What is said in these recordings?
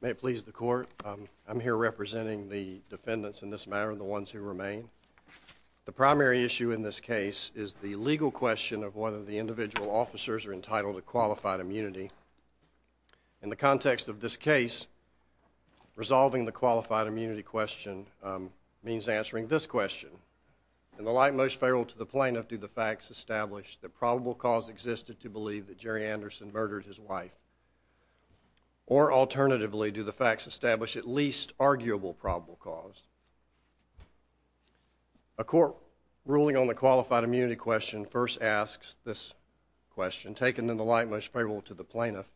May it please the court, I'm here representing the defendants in this matter and the ones who remain. The primary issue in this case is the legal question of whether the individual officers are entitled to qualified immunity. In the context of this case, resolving the qualified immunity question means answering this question. In the light most feral to the plaintiff do the facts establish that probable cause existed to believe that Jerry or alternatively do the facts establish at least arguable probable cause a court ruling on the qualified immunity question first asks this question taken in the light most fable to the plaintiff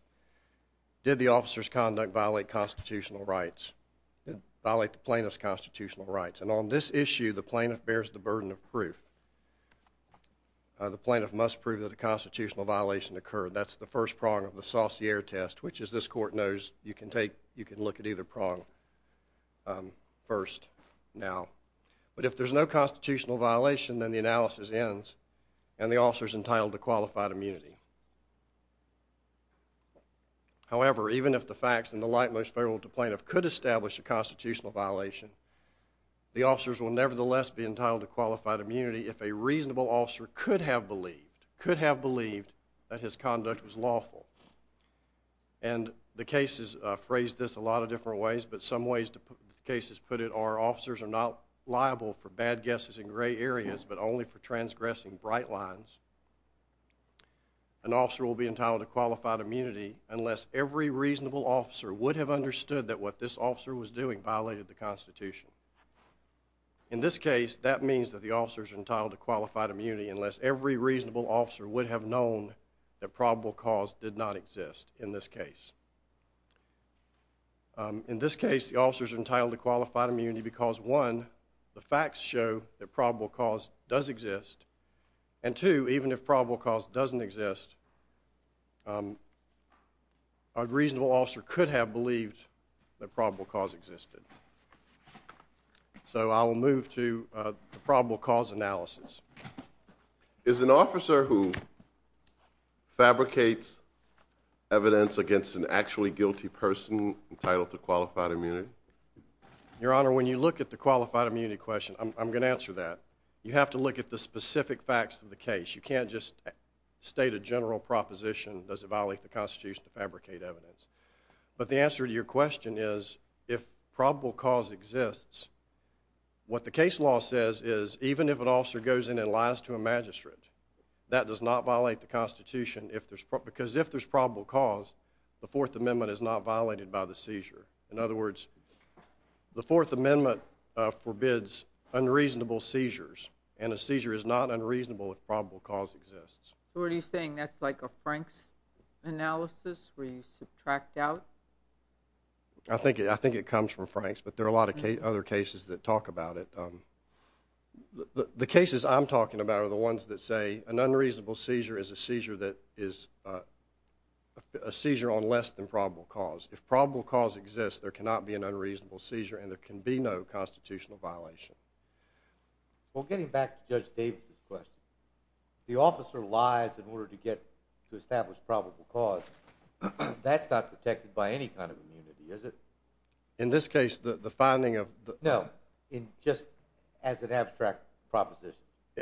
did the officer's conduct violate constitutional rights violate plaintiff's constitutional rights and on this issue the plaintiff bears the burden of proof the plaintiff must prove that the constitutional violation occurred that's the first prong of the dossier test which is this court knows you can take you can look at either prong first now but if there's no constitutional violation then the analysis ends and the officers entitled to qualified immunity however even if the facts in the light most fable to plaintiff could establish a constitutional violation the officers will nevertheless be entitled to qualified immunity if a reasonable officer could have believed could have believed that his conduct was lawful and the cases phrase this a lot of different ways but some ways to put cases put it our officers are not liable for bad guesses in gray areas but only for transgressing bright lines an officer will be entitled to qualified immunity unless every reasonable officer would have understood that what this officer was doing violated the Constitution in this case that means that the officers entitled to qualified immunity unless every reasonable officer would have known that probable cause did not exist in this case in this case the officers entitled to qualified immunity because one the facts show that probable cause does exist and two even if probable cause doesn't exist a reasonable officer could have believed that probable cause existed so I will move to probable cause analysis is an officer who fabricates evidence against an actually guilty person entitled to qualified immunity your honor when you look at the qualified immunity question I'm going to answer that you have to look at the specific facts of the case you can't just state a general proposition does it violate the question is if probable cause exists what the case law says is even if an officer goes in and lies to a magistrate that does not violate the Constitution if there's proper because if there's probable cause the Fourth Amendment is not violated by the seizure in other words the Fourth Amendment forbids unreasonable seizures and a seizure is not unreasonable if probable cause exists what are you saying that's like a Frank's analysis where you subtract out I think it I think it comes from Frank's but there are a lot of other cases that talk about it the cases I'm talking about are the ones that say an unreasonable seizure is a seizure that is a seizure on less than probable cause if probable cause exists there cannot be an unreasonable seizure and there can be no constitutional violation well getting back to Judge Davis's question the officer lies in order to get to establish probable cause that's not protected by any kind of immunity is it in this case the the finding of the no in just as an abstract proposition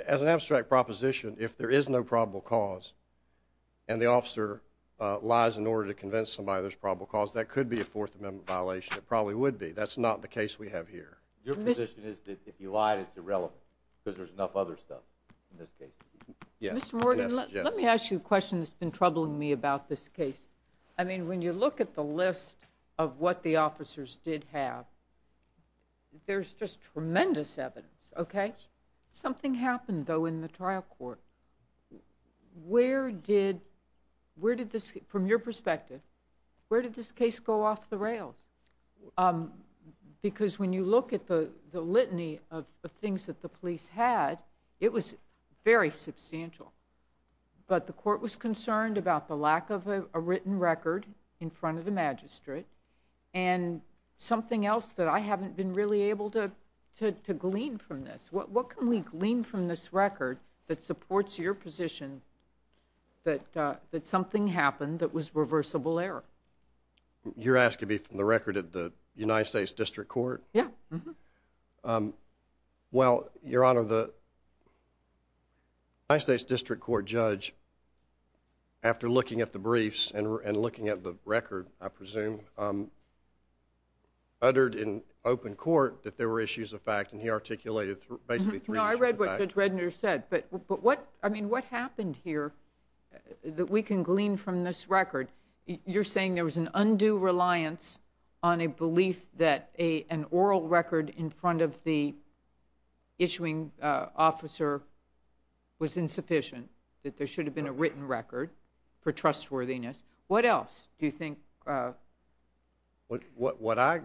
as an abstract proposition if there is no probable cause and the officer lies in order to convince somebody there's probable cause that could be a Fourth Amendment violation it probably would be that's not the case we have here your position is that if you lied it's irrelevant because there's enough other stuff in this case yes let me ask you a case I mean when you look at the list of what the officers did have there's just tremendous evidence okay something happened though in the trial court where did where did this from your perspective where did this case go off the rails because when you look at the the litany of the things that the police had it was very substantial but the court was concerned about the lack of a written record in front of the magistrate and something else that I haven't been really able to glean from this what can we glean from this record that supports your position that that something happened that was reversible error you're asking me from the record at the United States District Court yeah well your the United States District Court judge after looking at the briefs and looking at the record I presume uttered in open court that there were issues of fact and he articulated basically I read what the Dredner said but what I mean what happened here that we can glean from this record you're saying there was an undue reliance on a belief that a an oral record in front of the issuing officer was insufficient that there should have been a written record for trustworthiness what else do you think what what what I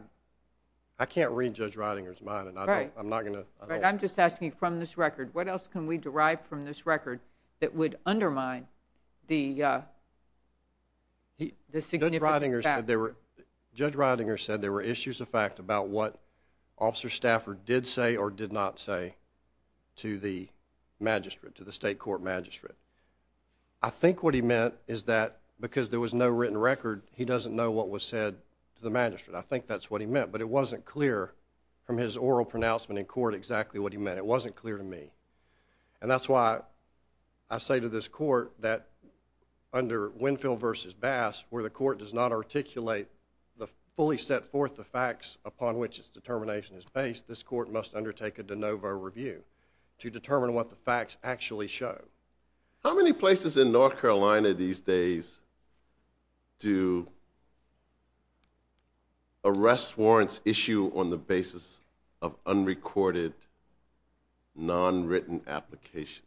I can't read judge Ridinger's mind and I'm not gonna I'm just asking you from this record what else can we derive from this record that would undermine the the significant fact there were judge Ridinger said there were issues of fact about what Stafford did say or did not say to the magistrate to the state court magistrate I think what he meant is that because there was no written record he doesn't know what was said to the magistrate I think that's what he meant but it wasn't clear from his oral pronouncement in court exactly what he meant it wasn't clear to me and that's why I say to this court that under Winfield versus bass where the court does not articulate the fully set forth the facts upon which its face this court must undertake a de novo review to determine what the facts actually show how many places in North Carolina these days do arrest warrants issue on the basis of unrecorded non-written applications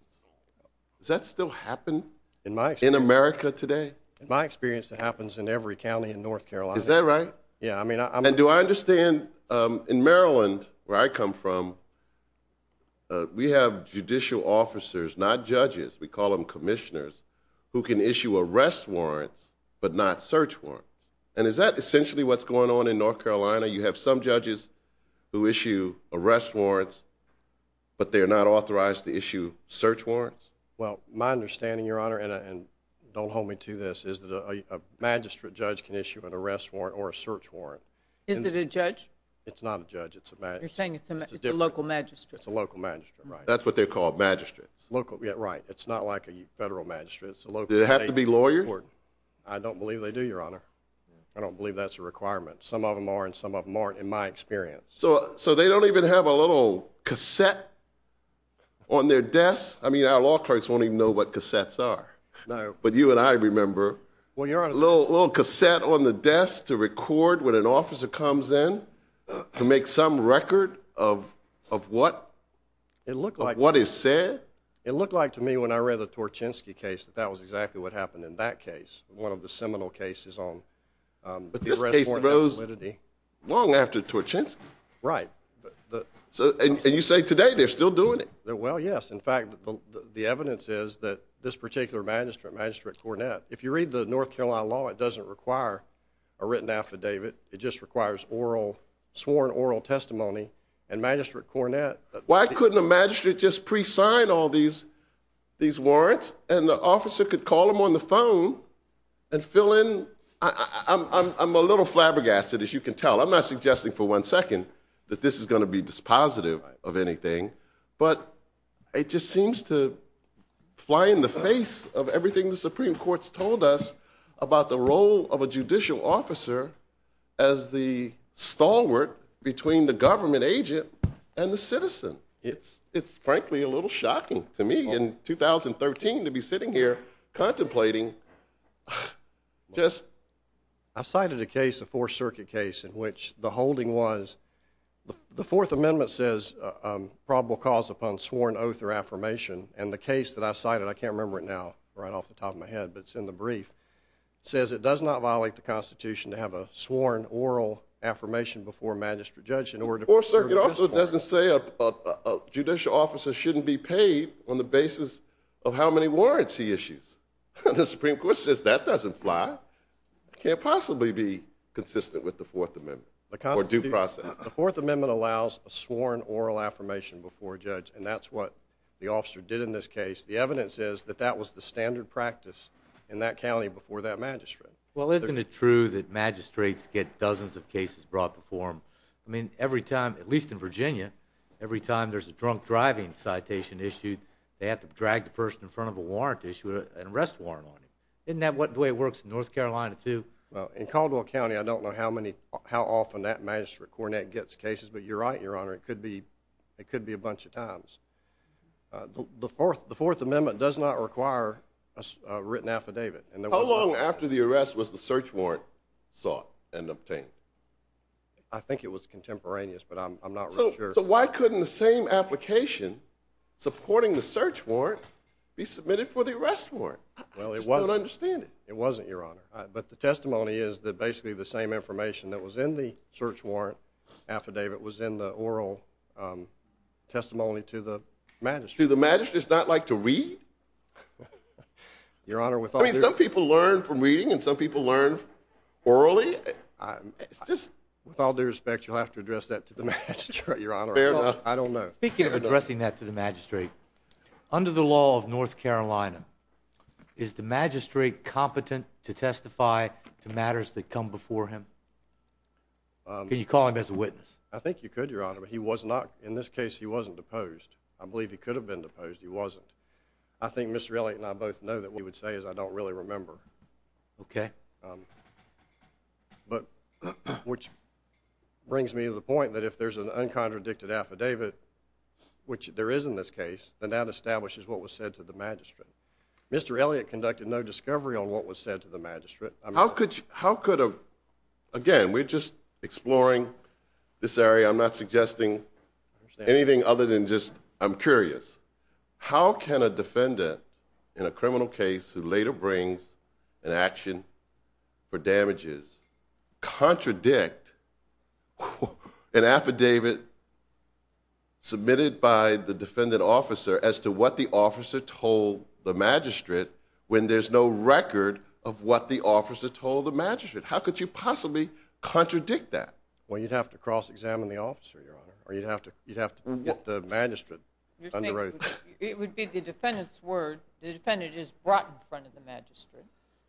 does that still happen in my in America today my experience that happens in every county in North Carolina is that right yeah I mean I mean do I understand in Maryland where I come from we have judicial officers not judges we call them commissioners who can issue arrest warrants but not search warrants and is that essentially what's going on in North Carolina you have some judges who issue arrest warrants but they are not authorized to issue search warrants well my understanding your honor and don't hold me to this is that a magistrate judge can issue an arrest warrant or a search warrant is it a judge it's not a judge it's a bad thing it's a local magistrate it's a local magistrate right that's what they're called magistrates local get right it's not like a federal magistrate so look it have to be lawyers I don't believe they do your honor I don't believe that's a requirement some of them are and some of them aren't in my experience so so they don't even have a little cassette on their desk I mean our law clerks won't even know what cassettes are no but you and I remember when you're a little cassette on the desk to record when an officer comes in to make some record of of what it looked like what is said it looked like to me when I read the Torchinsky case that was exactly what happened in that case one of the seminal cases on but this case rose long after Torchinsky right but so and you say today they're still doing it there well yes in fact the evidence is that this particular magistrate magistrate Cornette if you read the North Carolina law it doesn't require a written affidavit it just requires oral sworn oral testimony and magistrate Cornette why couldn't a magistrate just pre-sign all these these warrants and the officer could call them on the phone and fill in I'm a little flabbergasted as you can tell I'm not suggesting for one second that this is going to be dispositive of anything but it just seems to fly in the face of everything the Supreme Court's told us about the role of a judicial officer as the stalwart between the government agent and the citizen it's it's frankly a little shocking to me in 2013 to be sitting here contemplating just I cited a case the Fourth Circuit case in which the holding was the Fourth Amendment says probable cause upon sworn oath or and the case that I cited I can't remember it now right off the top of my head but it's in the brief says it does not violate the Constitution to have a sworn oral affirmation before a magistrate judge in order for circuit also doesn't say a judicial officer shouldn't be paid on the basis of how many warrants he issues the Supreme Court says that doesn't fly can't possibly be consistent with the Fourth Amendment the kind of due process the Fourth Amendment allows a sworn oral affirmation before a judge and that's what the officer did in this case the evidence is that that was the standard practice in that county before that magistrate well isn't it true that magistrates get dozens of cases brought before him I mean every time at least in Virginia every time there's a drunk driving citation issued they have to drag the person in front of a warrant issue an arrest warrant on it isn't that what way it works in North Carolina too well in Caldwell County I don't know how many how often that magistrate coronet gets cases but you're right your honor it could be it could be a bunch of times the fourth the Fourth Amendment does not require a written affidavit and how long after the arrest was the search warrant sought and obtained I think it was contemporaneous but I'm not so why couldn't the same application supporting the search warrant be submitted for the arrest warrant well it wasn't understand it it wasn't your honor but the testimony is that basically the same information that was in the search warrant affidavit was in the oral testimony to the magistrate the magistrate's not like to read your honor with some people learn from reading and some people learn orally just with all due respect you'll have to address that to the magistrate your honor I don't know speaking of addressing that to the magistrate under the law of North Carolina is the magistrate competent to call him as a witness I think you could your honor but he was not in this case he wasn't deposed I believe he could have been deposed he wasn't I think mr. Elliott and I both know that we would say is I don't really remember okay but which brings me to the point that if there's an uncontradicted affidavit which there is in this case then that establishes what was said to the magistrate mr. Elliott conducted no discovery on what was said to the this area I'm not suggesting anything other than just I'm curious how can a defendant in a criminal case who later brings an action for damages contradict an affidavit submitted by the defendant officer as to what the officer told the magistrate when there's no record of what the officer told the magistrate how could you possibly contradict that well you'd have to cross-examine the officer your honor or you'd have to you'd have to get the magistrate it would be the defendants word the defendant is brought in front of the magistrate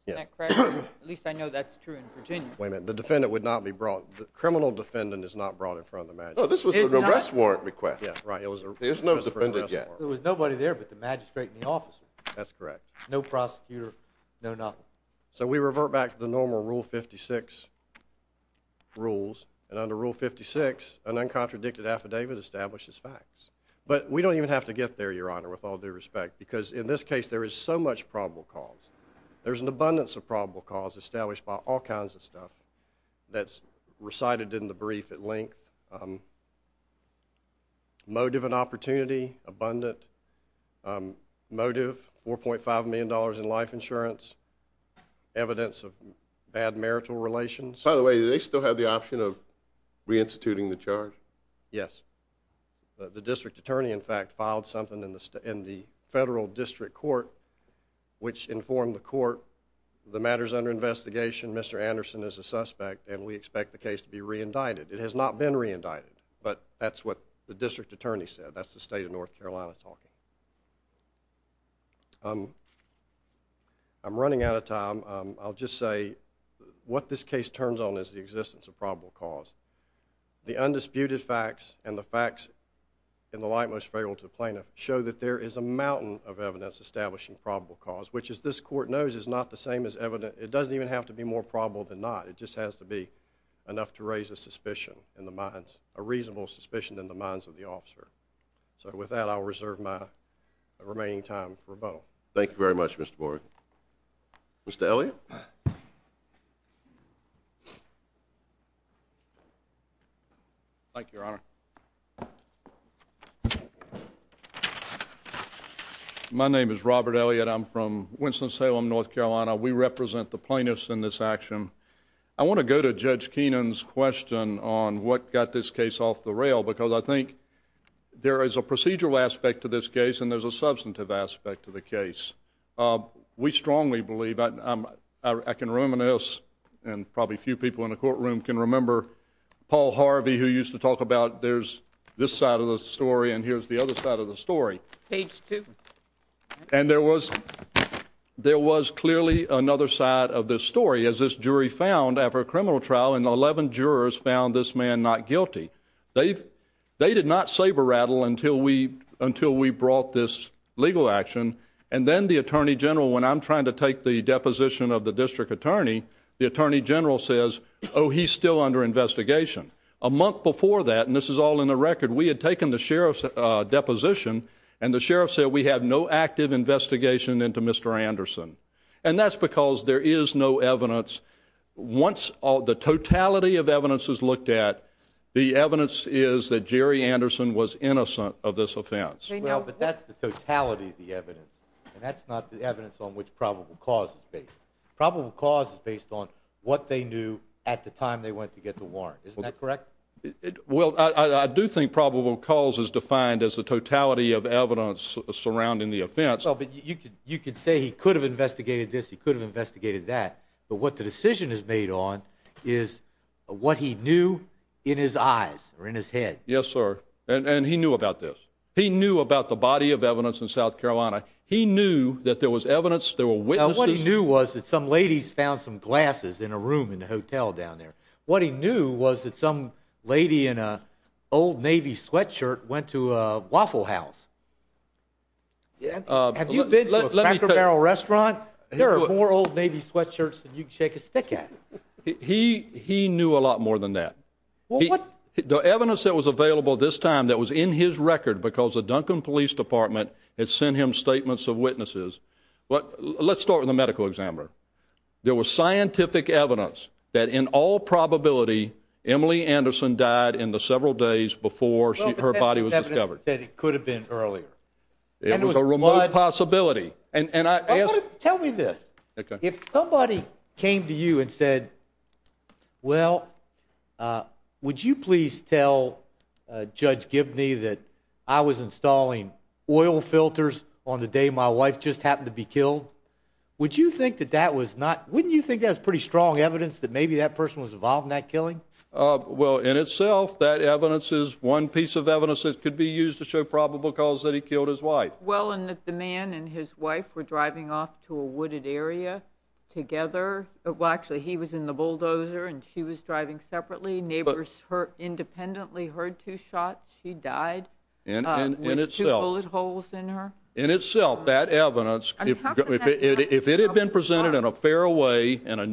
yeah at least I know that's true in Virginia wait a minute the defendant would not be brought the criminal defendant is not brought in front of the man oh this was an arrest warrant request yeah right it was there's no defendant yet there was nobody there but the magistrate in the officer that's correct no prosecutor no not so we revert back to the normal rule 56 rules and under rule 56 an uncontradicted affidavit establishes facts but we don't even have to get there your honor with all due respect because in this case there is so much probable cause there's an abundance of probable cause established by all kinds of stuff that's recited in the brief at length motive an opportunity abundant motive four point five million dollars in life insurance evidence of bad marital relations by the way they still have the option of reinstituting the charge yes the district attorney in fact filed something in the state in the federal district court which informed the court the matters under investigation mr. Anderson is a suspect and we expect the case to be reindicted it has not been reindicted but that's what the district attorney said that's the state of North Carolina talking um I'm running out of time I'll just say what this case turns on is the existence of probable cause the undisputed facts and the facts in the light most favorable to plaintiff show that there is a mountain of evidence establishing probable cause which is this court knows is not the same as evident it doesn't even have to be more probable than not it just has to be enough to raise a suspicion in the officer so with that I'll reserve my remaining time for a bottle thank you very much mr. board mr. Elliot thank your honor my name is Robert Elliot I'm from Winston-Salem North Carolina we represent the plaintiffs in this action I want to go to judge Kenan's question on what got this case off the rail because I think there is a procedural aspect to this case and there's a substantive aspect to the case we strongly believe I can reminisce and probably few people in the courtroom can remember Paul Harvey who used to talk about there's this side of the story and here's the other side of the story and there was there was clearly another side of this story as this jury found after a criminal trial and 11 jurors found this man not guilty they've they did not saber-rattle until we until we brought this legal action and then the Attorney General when I'm trying to take the deposition of the district attorney the Attorney General says oh he's still under investigation a month before that and this is all in the record we had taken the sheriff's deposition and the sheriff said we have no active investigation into mr. Anderson and that's because there is no evidence once all the totality of evidence is looked at the evidence is that Jerry Anderson was innocent of this offense no but that's the totality of the evidence and that's not the evidence on which probable cause is based probable cause is based on what they knew at the time they went to get the warrant is that correct well I do think probable cause is defined as the totality of evidence surrounding the offense oh but you could you could say he could have investigated this he could have investigated that but what the decision is made on is what he knew in his eyes or in his head yes sir and and he knew about this he knew about the body of evidence in South Carolina he knew that there was evidence there were what he knew was that some ladies found some glasses in a room in the hotel down there what he knew was that some lady in old Navy sweatshirt went to a Waffle House yeah have you been to a Cracker Barrel restaurant there are more old Navy sweatshirts than you can shake a stick at he he knew a lot more than that well what the evidence that was available this time that was in his record because the Duncan Police Department had sent him statements of witnesses but let's start with a medical examiner there was several days before her body was discovered that it could have been earlier it was a remote possibility and and I guess tell me this okay if somebody came to you and said well would you please tell judge Gibney that I was installing oil filters on the day my wife just happened to be killed would you think that that was not wouldn't you think that's pretty strong evidence that maybe that person was involved in that killing well in itself that evidence is one piece of evidence that could be used to show probable cause that he killed his wife well and that the man and his wife were driving off to a wooded area together well actually he was in the bulldozer and she was driving separately neighbors her independently heard two shots he died and in itself it holes in her in itself that evidence if it had been presented in a fair way in a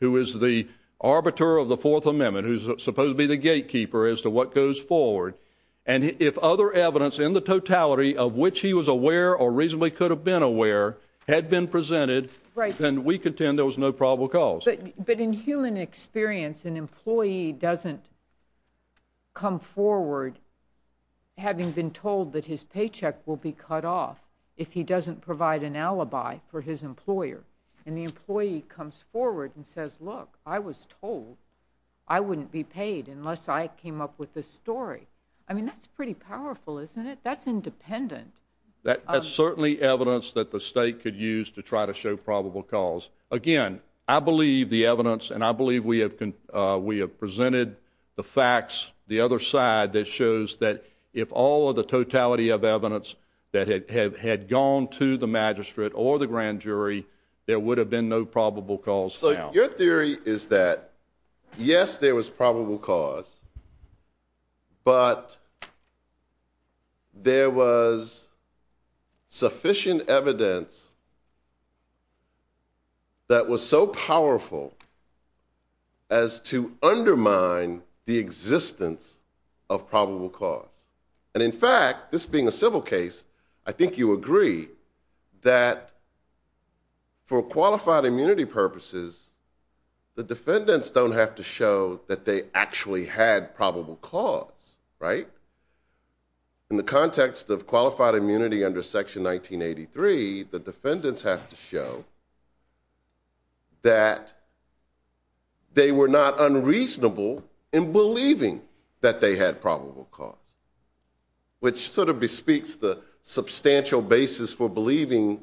who is the arbiter of the Fourth Amendment who's supposed to be the gatekeeper as to what goes forward and if other evidence in the totality of which he was aware or reasonably could have been aware had been presented right then we contend there was no probable cause but in human experience an employee doesn't come forward having been told that his paycheck will be cut off if he doesn't provide an alibi for his employer and the employee comes forward and says look I was told I wouldn't be paid unless I came up with the story I mean that's pretty powerful isn't it that's independent that has certainly evidence that the state could use to try to show probable cause again I believe the evidence and I believe we have we have presented the facts the other side that shows that if all of the totality of evidence that had had gone to the magistrate or the grand jury there would have been no probable cause so your theory is that yes there was probable cause but there was sufficient evidence that was so powerful as to undermine the existence of probable cause and in fact this being a civil case I think you agree that for qualified immunity purposes the defendants don't have to show that they actually had probable cause right in the context of qualified immunity under section 1983 the defendants have to show that they were not unreasonable in which sort of bespeaks the substantial basis for believing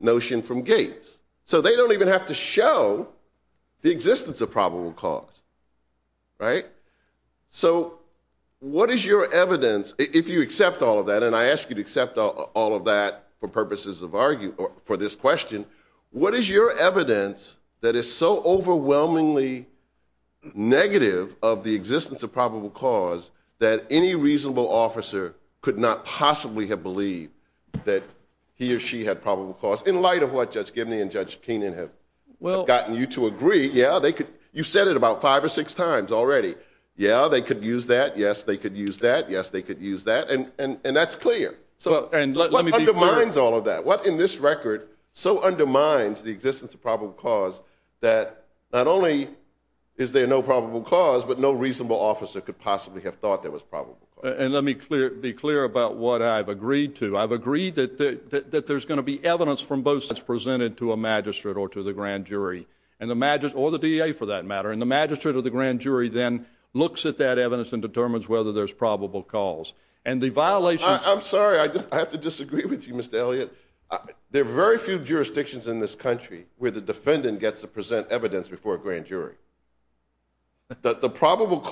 notion from Gates so they don't even have to show the existence of probable cause right so what is your evidence if you accept all of that and I ask you to accept all of that for purposes of arguing for this question what is your evidence that is so overwhelmingly negative of the existence of probable cause that any reasonable officer could not possibly have believed that he or she had probable cause in light of what judge Gibney and judge Keenan have well gotten you to agree yeah they could you said it about five or six times already yeah they could use that yes they could use that yes they could use that and and that's clear so and let me be reminds all of that what in this record so undermines the existence of probable cause that not only is there no probable cause but no reasonable officer could possibly have thought that was probable and let me clear be clear about what I've agreed to I've agreed that that there's going to be evidence from both that's presented to a magistrate or to the grand jury and the magic or the DA for that matter and the magistrate of the grand jury then looks at that evidence and determines whether there's probable cause and the violation I'm sorry I just have to disagree with you mr. Elliott there are very few jurisdictions in this country where the defendant gets to present evidence before a grand jury that the probable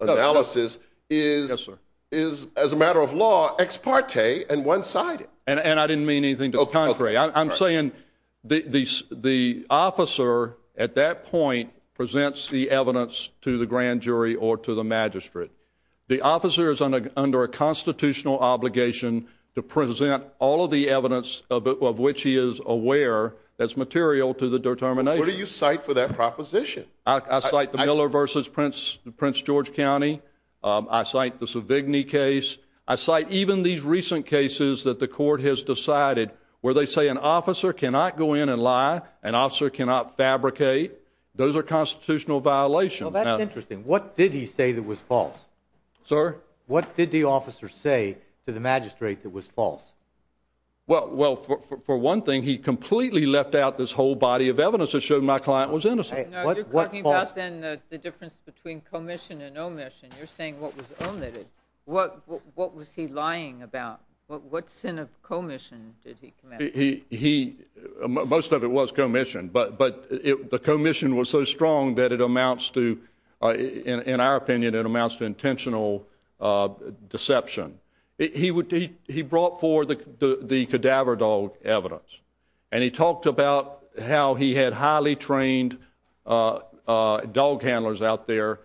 analysis is is as a matter of law ex parte and one-sided and and I didn't mean anything to the contrary I'm saying the the officer at that point presents the evidence to the grand jury or to the magistrate the officer is on a under a constitutional obligation to present all of the evidence of which he is aware that's material to the determination do you cite for that proposition I like the Prince George County I cite the Savigny case I cite even these recent cases that the court has decided where they say an officer cannot go in and lie an officer cannot fabricate those are constitutional violations interesting what did he say that was false sir what did the officer say to the magistrate that was false well well for one thing he completely left out this whole body of evidence that showed my client was innocent what was then the difference between commission and omission you're saying what was omitted what what was he lying about what what sin of commission did he he most of it was commission but but if the commission was so strong that it amounts to in our opinion it amounts to intentional deception he would he brought for the the cadaver dog evidence and he talked about how he had highly trained dog handlers out there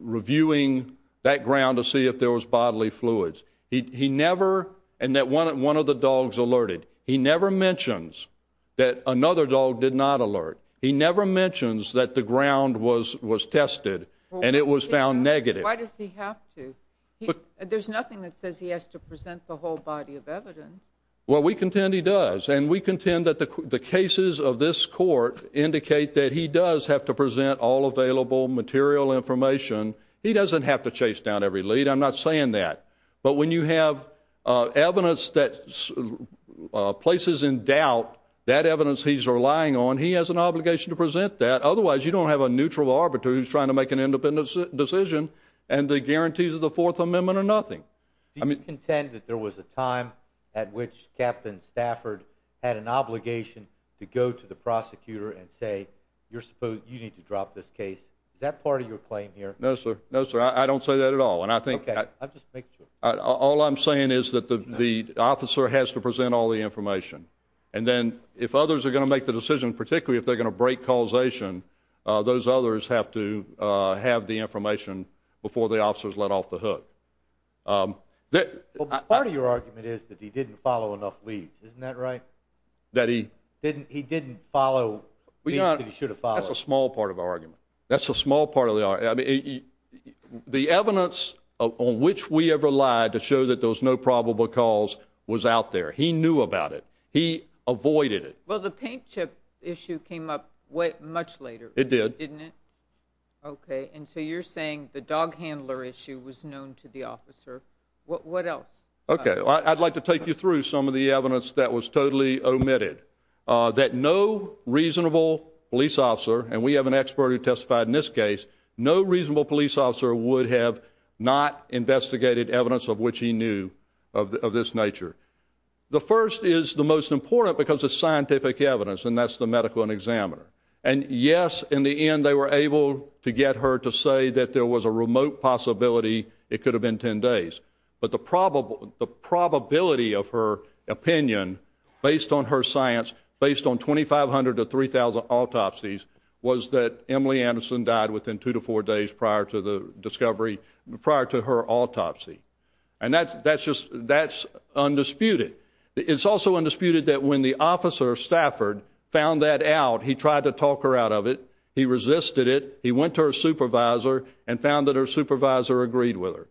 reviewing that ground to see if there was bodily fluids he never and that one at one of the dogs alerted he never mentions that another dog did not alert he never mentions that the ground was was tested and it was found negative there's nothing that says he has to present the whole body of evidence well we contend he does and we contend that the cases of this court indicate that he does have to present all available material information he doesn't have to chase down every lead I'm not saying that but when you have evidence that places in doubt that evidence he's relying on he has an obligation to present that otherwise you don't have a neutral arbiter who's trying to make an independent decision and the guarantees of the Fourth Amendment are nothing I had an obligation to go to the prosecutor and say you're supposed you need to drop this case is that part of your claim here no sir no sir I don't say that at all and I think all I'm saying is that the the officer has to present all the information and then if others are going to make the decision particularly if they're going to break causation those others have to have the information before the officers let off the hook that part of your argument is that he didn't follow enough leads isn't that right that he didn't he didn't follow we should have followed a small part of our argument that's a small part of the are the evidence on which we ever lied to show that there was no probable cause was out there he knew about it he avoided it well the paint chip issue came up what much later it did didn't it okay and so you're saying the dog handler issue was known to the officer what what else okay I'd like to take you through some of the evidence that was totally omitted that no reasonable police officer and we have an expert who testified in this case no reasonable police officer would have not investigated evidence of which he knew of this nature the first is the most important because it's scientific evidence and that's the medical and examiner and yes in the end they were able to get her to say that there was a remote possibility it could have been 10 days but the probable the probability of her opinion based on her science based on 2,500 to 3,000 autopsies was that Emily Anderson died within two to four days prior to the discovery prior to her autopsy and that that's just that's undisputed it's also undisputed that when the officer Stafford found that out he tried to talk her out of it he resisted it he went to supervisor and found that her supervisor agreed with her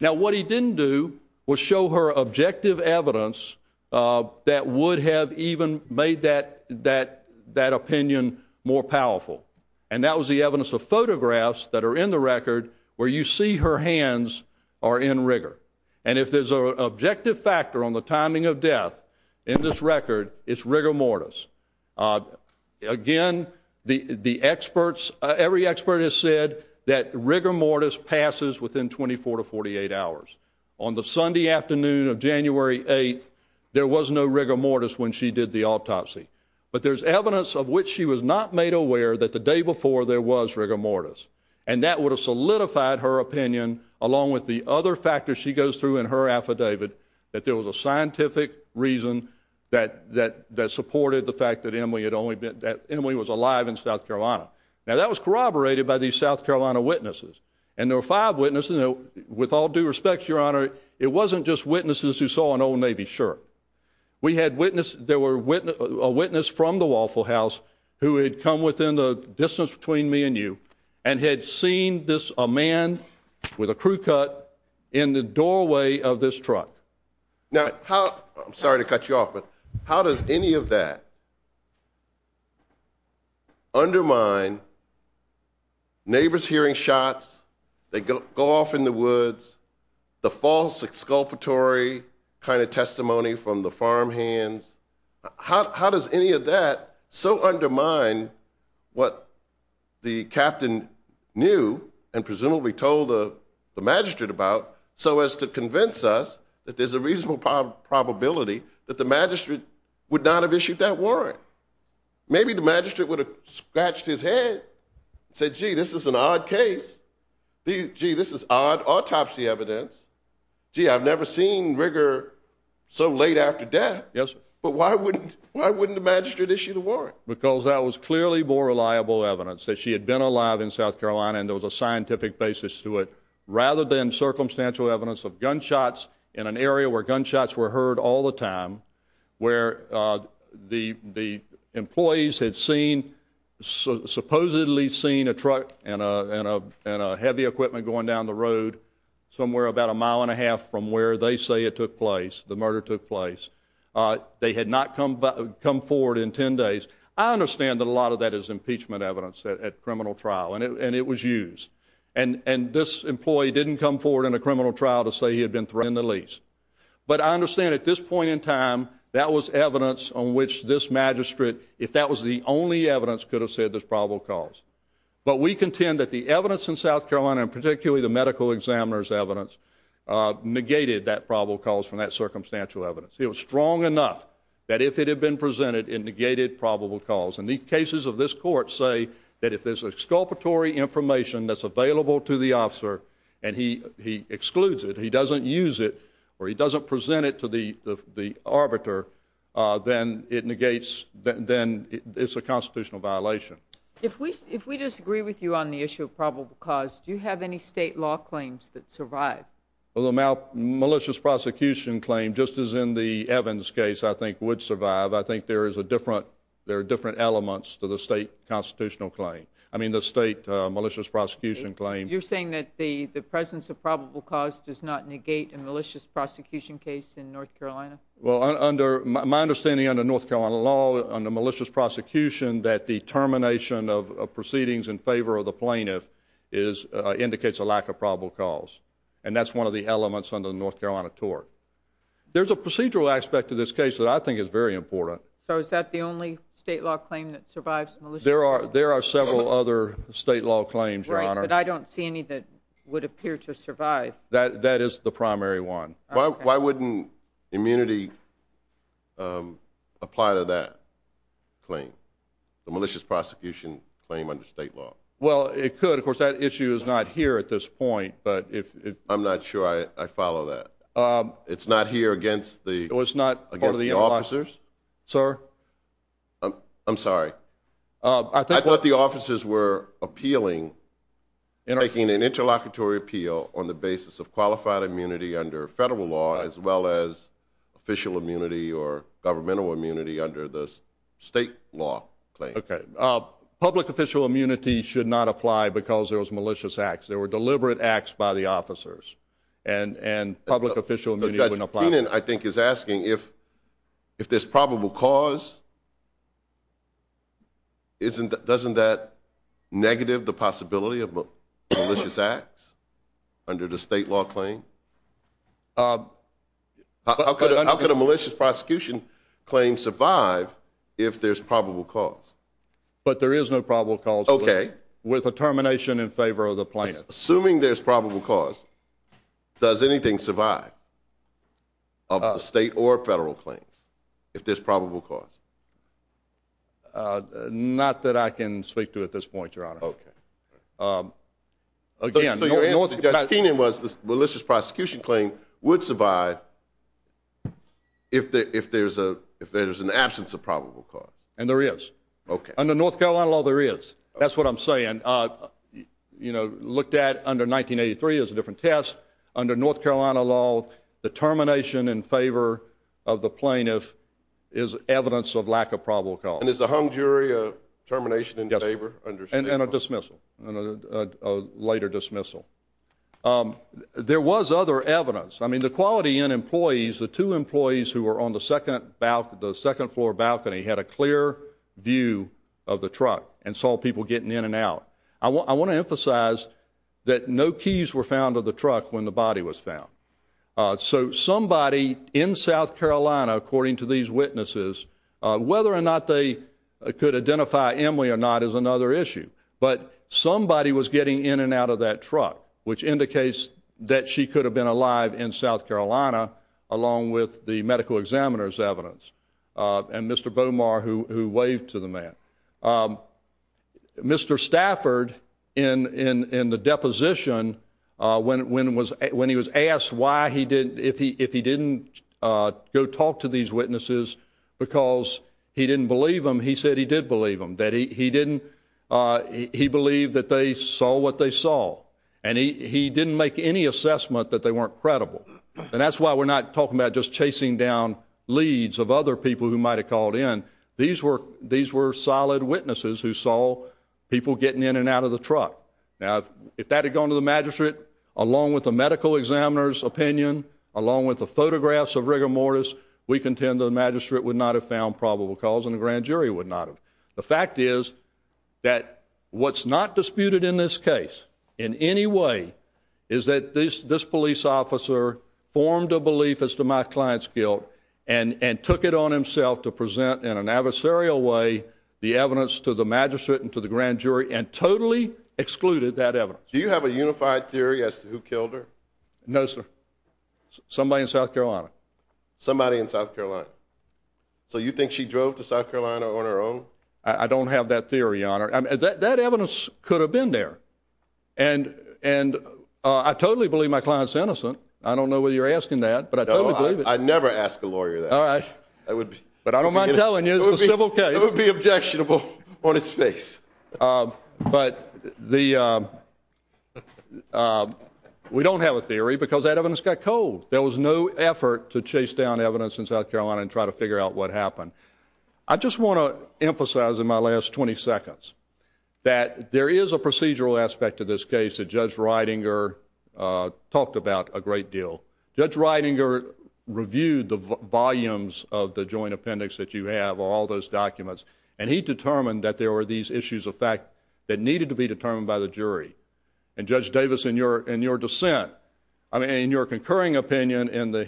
now what he didn't do was show her objective evidence that would have even made that that that opinion more powerful and that was the evidence of photographs that are in the record where you see her hands are in rigor and if there's a objective factor on the timing of death in this record it's rigor mortis again the the experts every expert has said that rigor mortis passes within 24 to 48 hours on the Sunday afternoon of January 8th there was no rigor mortis when she did the autopsy but there's evidence of which she was not made aware that the day before there was rigor mortis and that would have solidified her opinion along with the other factors she goes through in her affidavit that there was a scientific reason that that that supported the fact that Emily had only been that Emily was alive in South Carolina now that was corroborated by these South Carolina witnesses and there were five witnesses with all due respect your honor it wasn't just witnesses who saw an old Navy shirt we had witnessed there were witness a witness from the Waffle House who had come within the distance between me and you and had seen this a man with a crew cut in the doorway of this truck now how I'm sorry to cut you off but how does any of that undermine neighbors hearing shots they go off in the woods the false exculpatory kind of testimony from the farmhands how does any of that so undermine what the captain knew and presumably told the magistrate about so as to convince us that there's a reasonable probability that the not have issued that warrant maybe the magistrate would have scratched his head said gee this is an odd case gee this is odd autopsy evidence gee I've never seen rigor so late after death yes but why wouldn't why wouldn't the magistrate issue the warrant because that was clearly more reliable evidence that she had been alive in South Carolina and there was a scientific basis to it rather than circumstantial evidence of gunshots in an area where gunshots were the time where the the employees had seen supposedly seen a truck and a heavy equipment going down the road somewhere about a mile and a half from where they say it took place the murder took place they had not come but come forward in ten days I understand that a lot of that is impeachment evidence at criminal trial and it was used and and this employee didn't come forward in a criminal trial to say he had been thrown in the lease but I understand at this point in time that was evidence on which this magistrate if that was the only evidence could have said this probable cause but we contend that the evidence in South Carolina and particularly the medical examiner's evidence negated that probable cause from that circumstantial evidence it was strong enough that if it had been presented in negated probable cause and these cases of this court say that if there's a sculptor Tory information that's available to the officer and he he excludes it he doesn't use it or he the arbiter then it negates then it's a constitutional violation if we if we disagree with you on the issue of probable cause do you have any state law claims that survive well the mouth malicious prosecution claim just as in the Evans case I think would survive I think there is a different there are different elements to the state constitutional claim I mean the state malicious prosecution claim you're saying that the the presence of probable cause does not negate a malicious prosecution case in North Carolina well under my understanding under North Carolina law on the malicious prosecution that the termination of proceedings in favor of the plaintiff is indicates a lack of probable cause and that's one of the elements under the North Carolina tort there's a procedural aspect to this case that I think is very important so is that the only state law claim that survives there are there are several other state law claims right but I don't see any that would appear to survive that that is the primary one why wouldn't immunity apply to that claim the malicious prosecution claim under state law well it could of course that issue is not here at this point but if I'm not sure I follow that it's not here against the it was not again of the officers sir I'm sorry I think what the appeal on the basis of qualified immunity under federal law as well as official immunity or governmental immunity under the state law okay public official immunity should not apply because there was malicious acts there were deliberate acts by the officers and and public official opinion I think is asking if if there's probable cause isn't that doesn't that negative the possibility of malicious acts under the state law claim how could a malicious prosecution claim survive if there's probable cause but there is no probable cause okay with a termination in favor of the plaintiffs assuming there's probable cause does anything survive of the state or federal claims if there's again was this malicious prosecution claim would survive if there if there's a if there's an absence of probable cause and there is okay under North Carolina law there is that's what I'm saying you know looked at under 1983 is a different test under North Carolina law the termination in favor of the plaintiff is evidence of lack of probable cause and is the hung jury a favor and a dismissal a later dismissal there was other evidence I mean the quality in employees the two employees who were on the second about the second floor balcony had a clear view of the truck and saw people getting in and out I want to emphasize that no keys were found of the truck when the body was found so somebody in South Carolina according to these witnesses whether or they could identify Emily or not is another issue but somebody was getting in and out of that truck which indicates that she could have been alive in South Carolina along with the medical examiners evidence and mr. Bomar who waved to the man mr. Stafford in in in the deposition when when was when he was asked why he did if he if he didn't go talk to these witnesses because he didn't believe him he said he did believe him that he didn't he believed that they saw what they saw and he didn't make any assessment that they weren't credible and that's why we're not talking about just chasing down leads of other people who might have called in these were these were solid witnesses who saw people getting in and out of the truck if that had gone to the magistrate along with the medical examiner's opinion along with the photographs of rigor mortis we contend the magistrate would not have found probable cause and the grand jury would not have the fact is that what's not disputed in this case in any way is that this this police officer formed a belief as to my clients guilt and and took it on himself to present in an adversarial way the evidence to the magistrate and to the grand jury and totally excluded that ever do you have a unified theory as to who killed her no sir somebody in South Carolina so you think she drove to South Carolina on her own I don't have that theory honor and that evidence could have been there and and I totally believe my client's innocent I don't know what you're asking that but I don't believe it I never asked the lawyer that all right I would but I don't mind telling you the civil case would be objectionable on its face but the we don't have a theory because that evidence got cold there was no effort to South Carolina and try to figure out what happened I just want to emphasize in my last 20 seconds that there is a procedural aspect of this case that judge Ridinger talked about a great deal judge Ridinger reviewed the volumes of the joint appendix that you have all those documents and he determined that there were these issues of fact that needed to be determined by the jury and judge Davis in your in your dissent I mean in your concurring opinion in the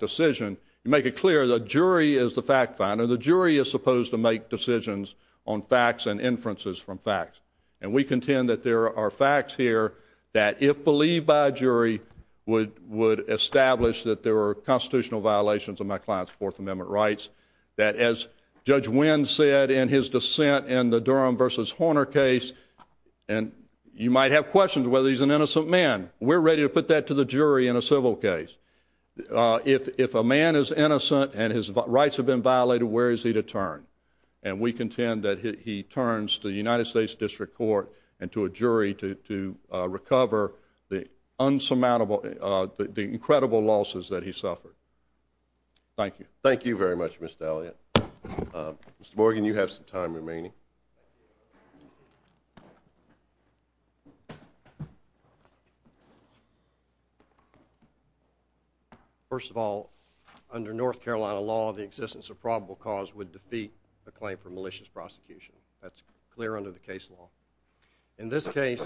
decision you make it clear the jury is the fact finder the jury is supposed to make decisions on facts and inferences from facts and we contend that there are facts here that if believed by a jury would would establish that there were constitutional violations of my client's Fourth Amendment rights that as judge Wynn said in his dissent in the Durham versus Horner case and you might have questions whether he's an innocent man we're ready to put that to the jury in a civil case if a man is innocent and his rights have been violated where is he to turn and we contend that he turns to the United States District Court and to a jury to recover the unsurmountable the incredible losses that he suffered thank you thank you very much mr. Elliott mr. Morgan you have some time remaining first of all under North Carolina law the existence of probable cause would defeat a claim for malicious prosecution that's clear under the case law in this case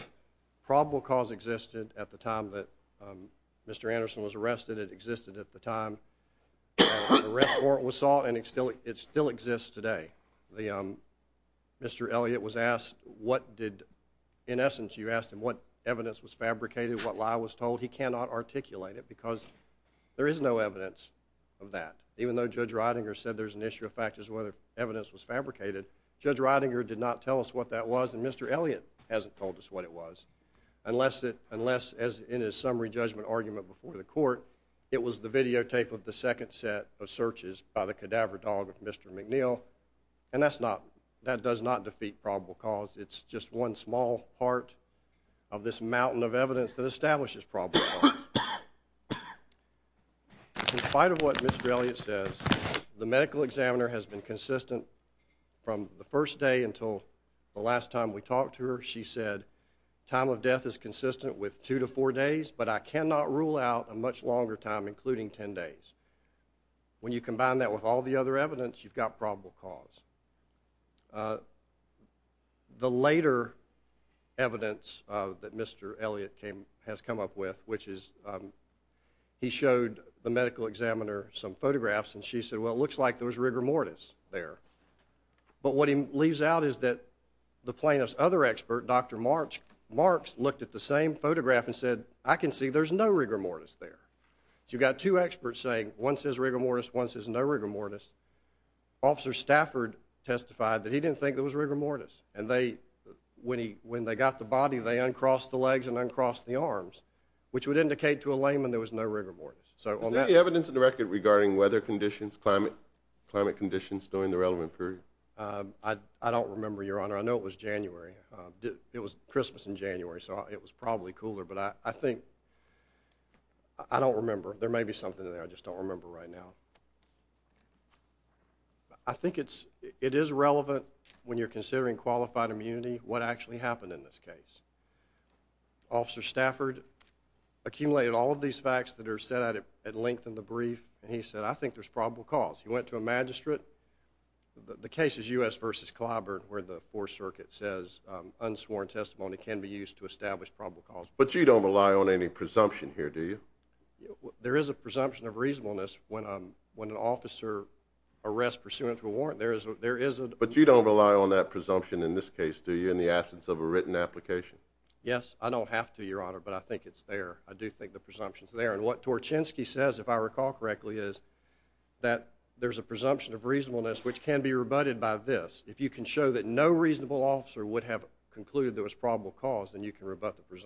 probable cause existed at the time that mr. Anderson was arrested it existed at the time the rest or it was saw and it still it still exists today the mr. Elliott was asked what did in essence you asked him what evidence was because there is no evidence of that even though judge Ridinger said there's an issue of factors whether evidence was fabricated judge Ridinger did not tell us what that was and mr. Elliott hasn't told us what it was unless it unless as in his summary judgment argument before the court it was the videotape of the second set of searches by the cadaver dog of mr. McNeil and that's not that does not defeat probable cause it's just one small part of this mountain of establishes problem in spite of what mr. Elliott says the medical examiner has been consistent from the first day until the last time we talked to her she said time of death is consistent with two to four days but I cannot rule out a much longer time including ten days when you combine that with all the other evidence you've got probable cause the later evidence that mr. Elliott came has come up with which is he showed the medical examiner some photographs and she said well it looks like there was rigor mortis there but what he leaves out is that the plaintiff's other expert dr. March marks looked at the same photograph and said I can see there's no rigor mortis there you got two experts saying once is rigor mortis once is no rigor mortis officer Stafford testified that he didn't think there was rigor mortis and they when he when they got the body they uncrossed the legs and uncrossed the arms which would indicate to a layman there was no rigor mortis so evidence in the record regarding weather conditions climate climate conditions during the relevant period I don't remember your honor I know it was January it was Christmas in January so it was probably cooler but I think I don't remember there may be something there I just don't remember right now I think it's it is relevant when you're considering qualified immunity what actually happened in this case officer Stafford accumulated all of these facts that are set out at length in the brief and he said I think there's probable cause he went to a magistrate the case is u.s. versus Clyburn where the fourth circuit says unsworn testimony can be used to establish probable cause but you don't rely on any presumption here do there is a presumption of reasonableness when I'm when an officer arrest pursuant to a warrant there is there isn't but you don't rely on that presumption in this case do you in the absence of a written application yes I don't have to your honor but I think it's there I do think the presumptions there and what Torchinsky says if I recall correctly is that there's a presumption of reasonableness which can be rebutted by this if you can show that no reasonable officer would have concluded there was probable cause then you can rebut the absence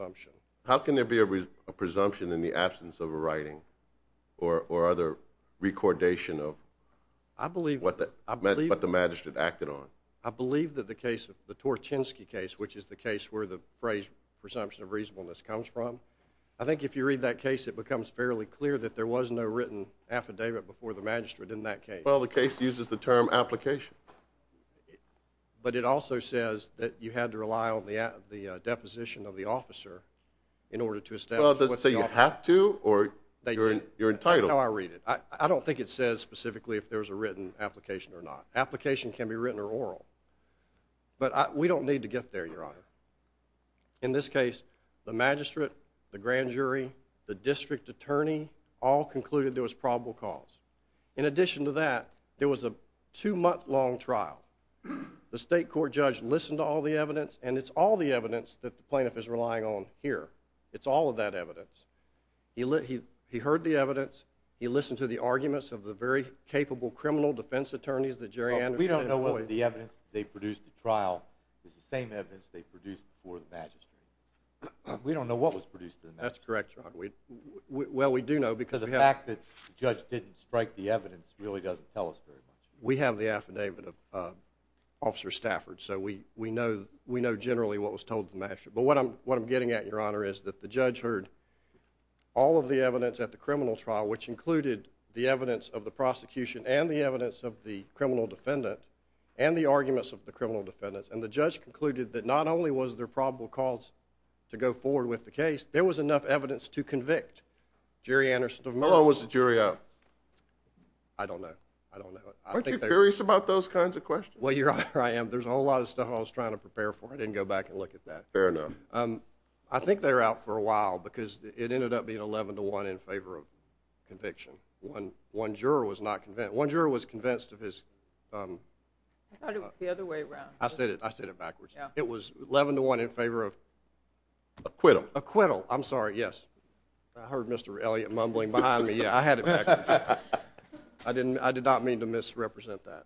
of a writing or or other recordation of I believe what that I believe what the magistrate acted on I believe that the case of the Torchinsky case which is the case where the phrase presumption of reasonableness comes from I think if you read that case it becomes fairly clear that there was no written affidavit before the magistrate in that case well the case uses the term application but it also says that you had to rely on the at the deposition of officer in order to say you have to or you're entitled I read it I don't think it says specifically if there's a written application or not application can be written or oral but we don't need to get there your honor in this case the magistrate the grand jury the district attorney all concluded there was probable cause in addition to that there was a two-month long trial the state court judge listened to all the evidence and it's all the evidence that the lying on here it's all of that evidence he let he he heard the evidence he listened to the arguments of the very capable criminal defense attorneys the jury and we don't know what the evidence they produced the trial is the same evidence they produced for the magistrate we don't know what was produced that's correct we well we do know because the fact that judge didn't strike the evidence really doesn't tell us very much we have the affidavit of officer Stafford so we we know we know generally what was told to master but what I'm what I'm getting at your honor is that the judge heard all of the evidence at the criminal trial which included the evidence of the prosecution and the evidence of the criminal defendant and the arguments of the criminal defendants and the judge concluded that not only was there probable cause to go forward with the case there was enough evidence to convict Jerry Anderson of Miller was the jury out I don't know I don't know I think they're curious about those kinds of questions well your honor I am there's a whole lot of stuff I was trying to prepare for I didn't go back and look at that fair enough I think they're out for a while because it ended up being 11 to 1 in favor of conviction one one juror was not convinced one juror was convinced of his I said it I said it backwards it was 11 to 1 in favor of acquittal acquittal I'm sorry yes I heard mr. Elliott mumbling behind me yeah I had it I didn't I did not mean to misrepresent that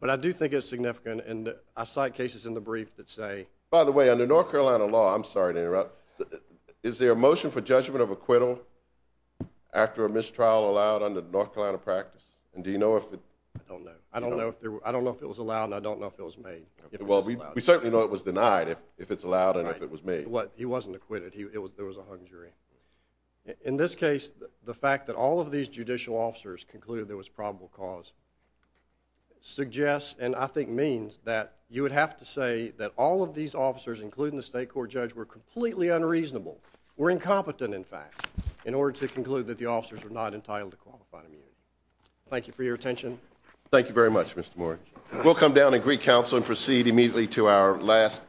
but I do think it's significant and I cite cases in the brief that say by the way under North Carolina law I'm sorry to interrupt is there a motion for judgment of acquittal after a mistrial allowed under North Carolina practice and do you know if I don't know if there I don't know if it was allowed and I don't know if it was made well we certainly know it was denied if if it's allowed and if it was made what he wasn't acquitted he was there was a hung jury in this case the fact that all of these judicial officers concluded there was probable cause suggests and I think means that you would have to say that all of these officers including the state court judge were completely unreasonable we're incompetent in fact in order to conclude that the officers are not entitled to qualified immunity thank you for your attention thank you very much mr. Moore we'll come down to Greek Council and proceed immediately to our last case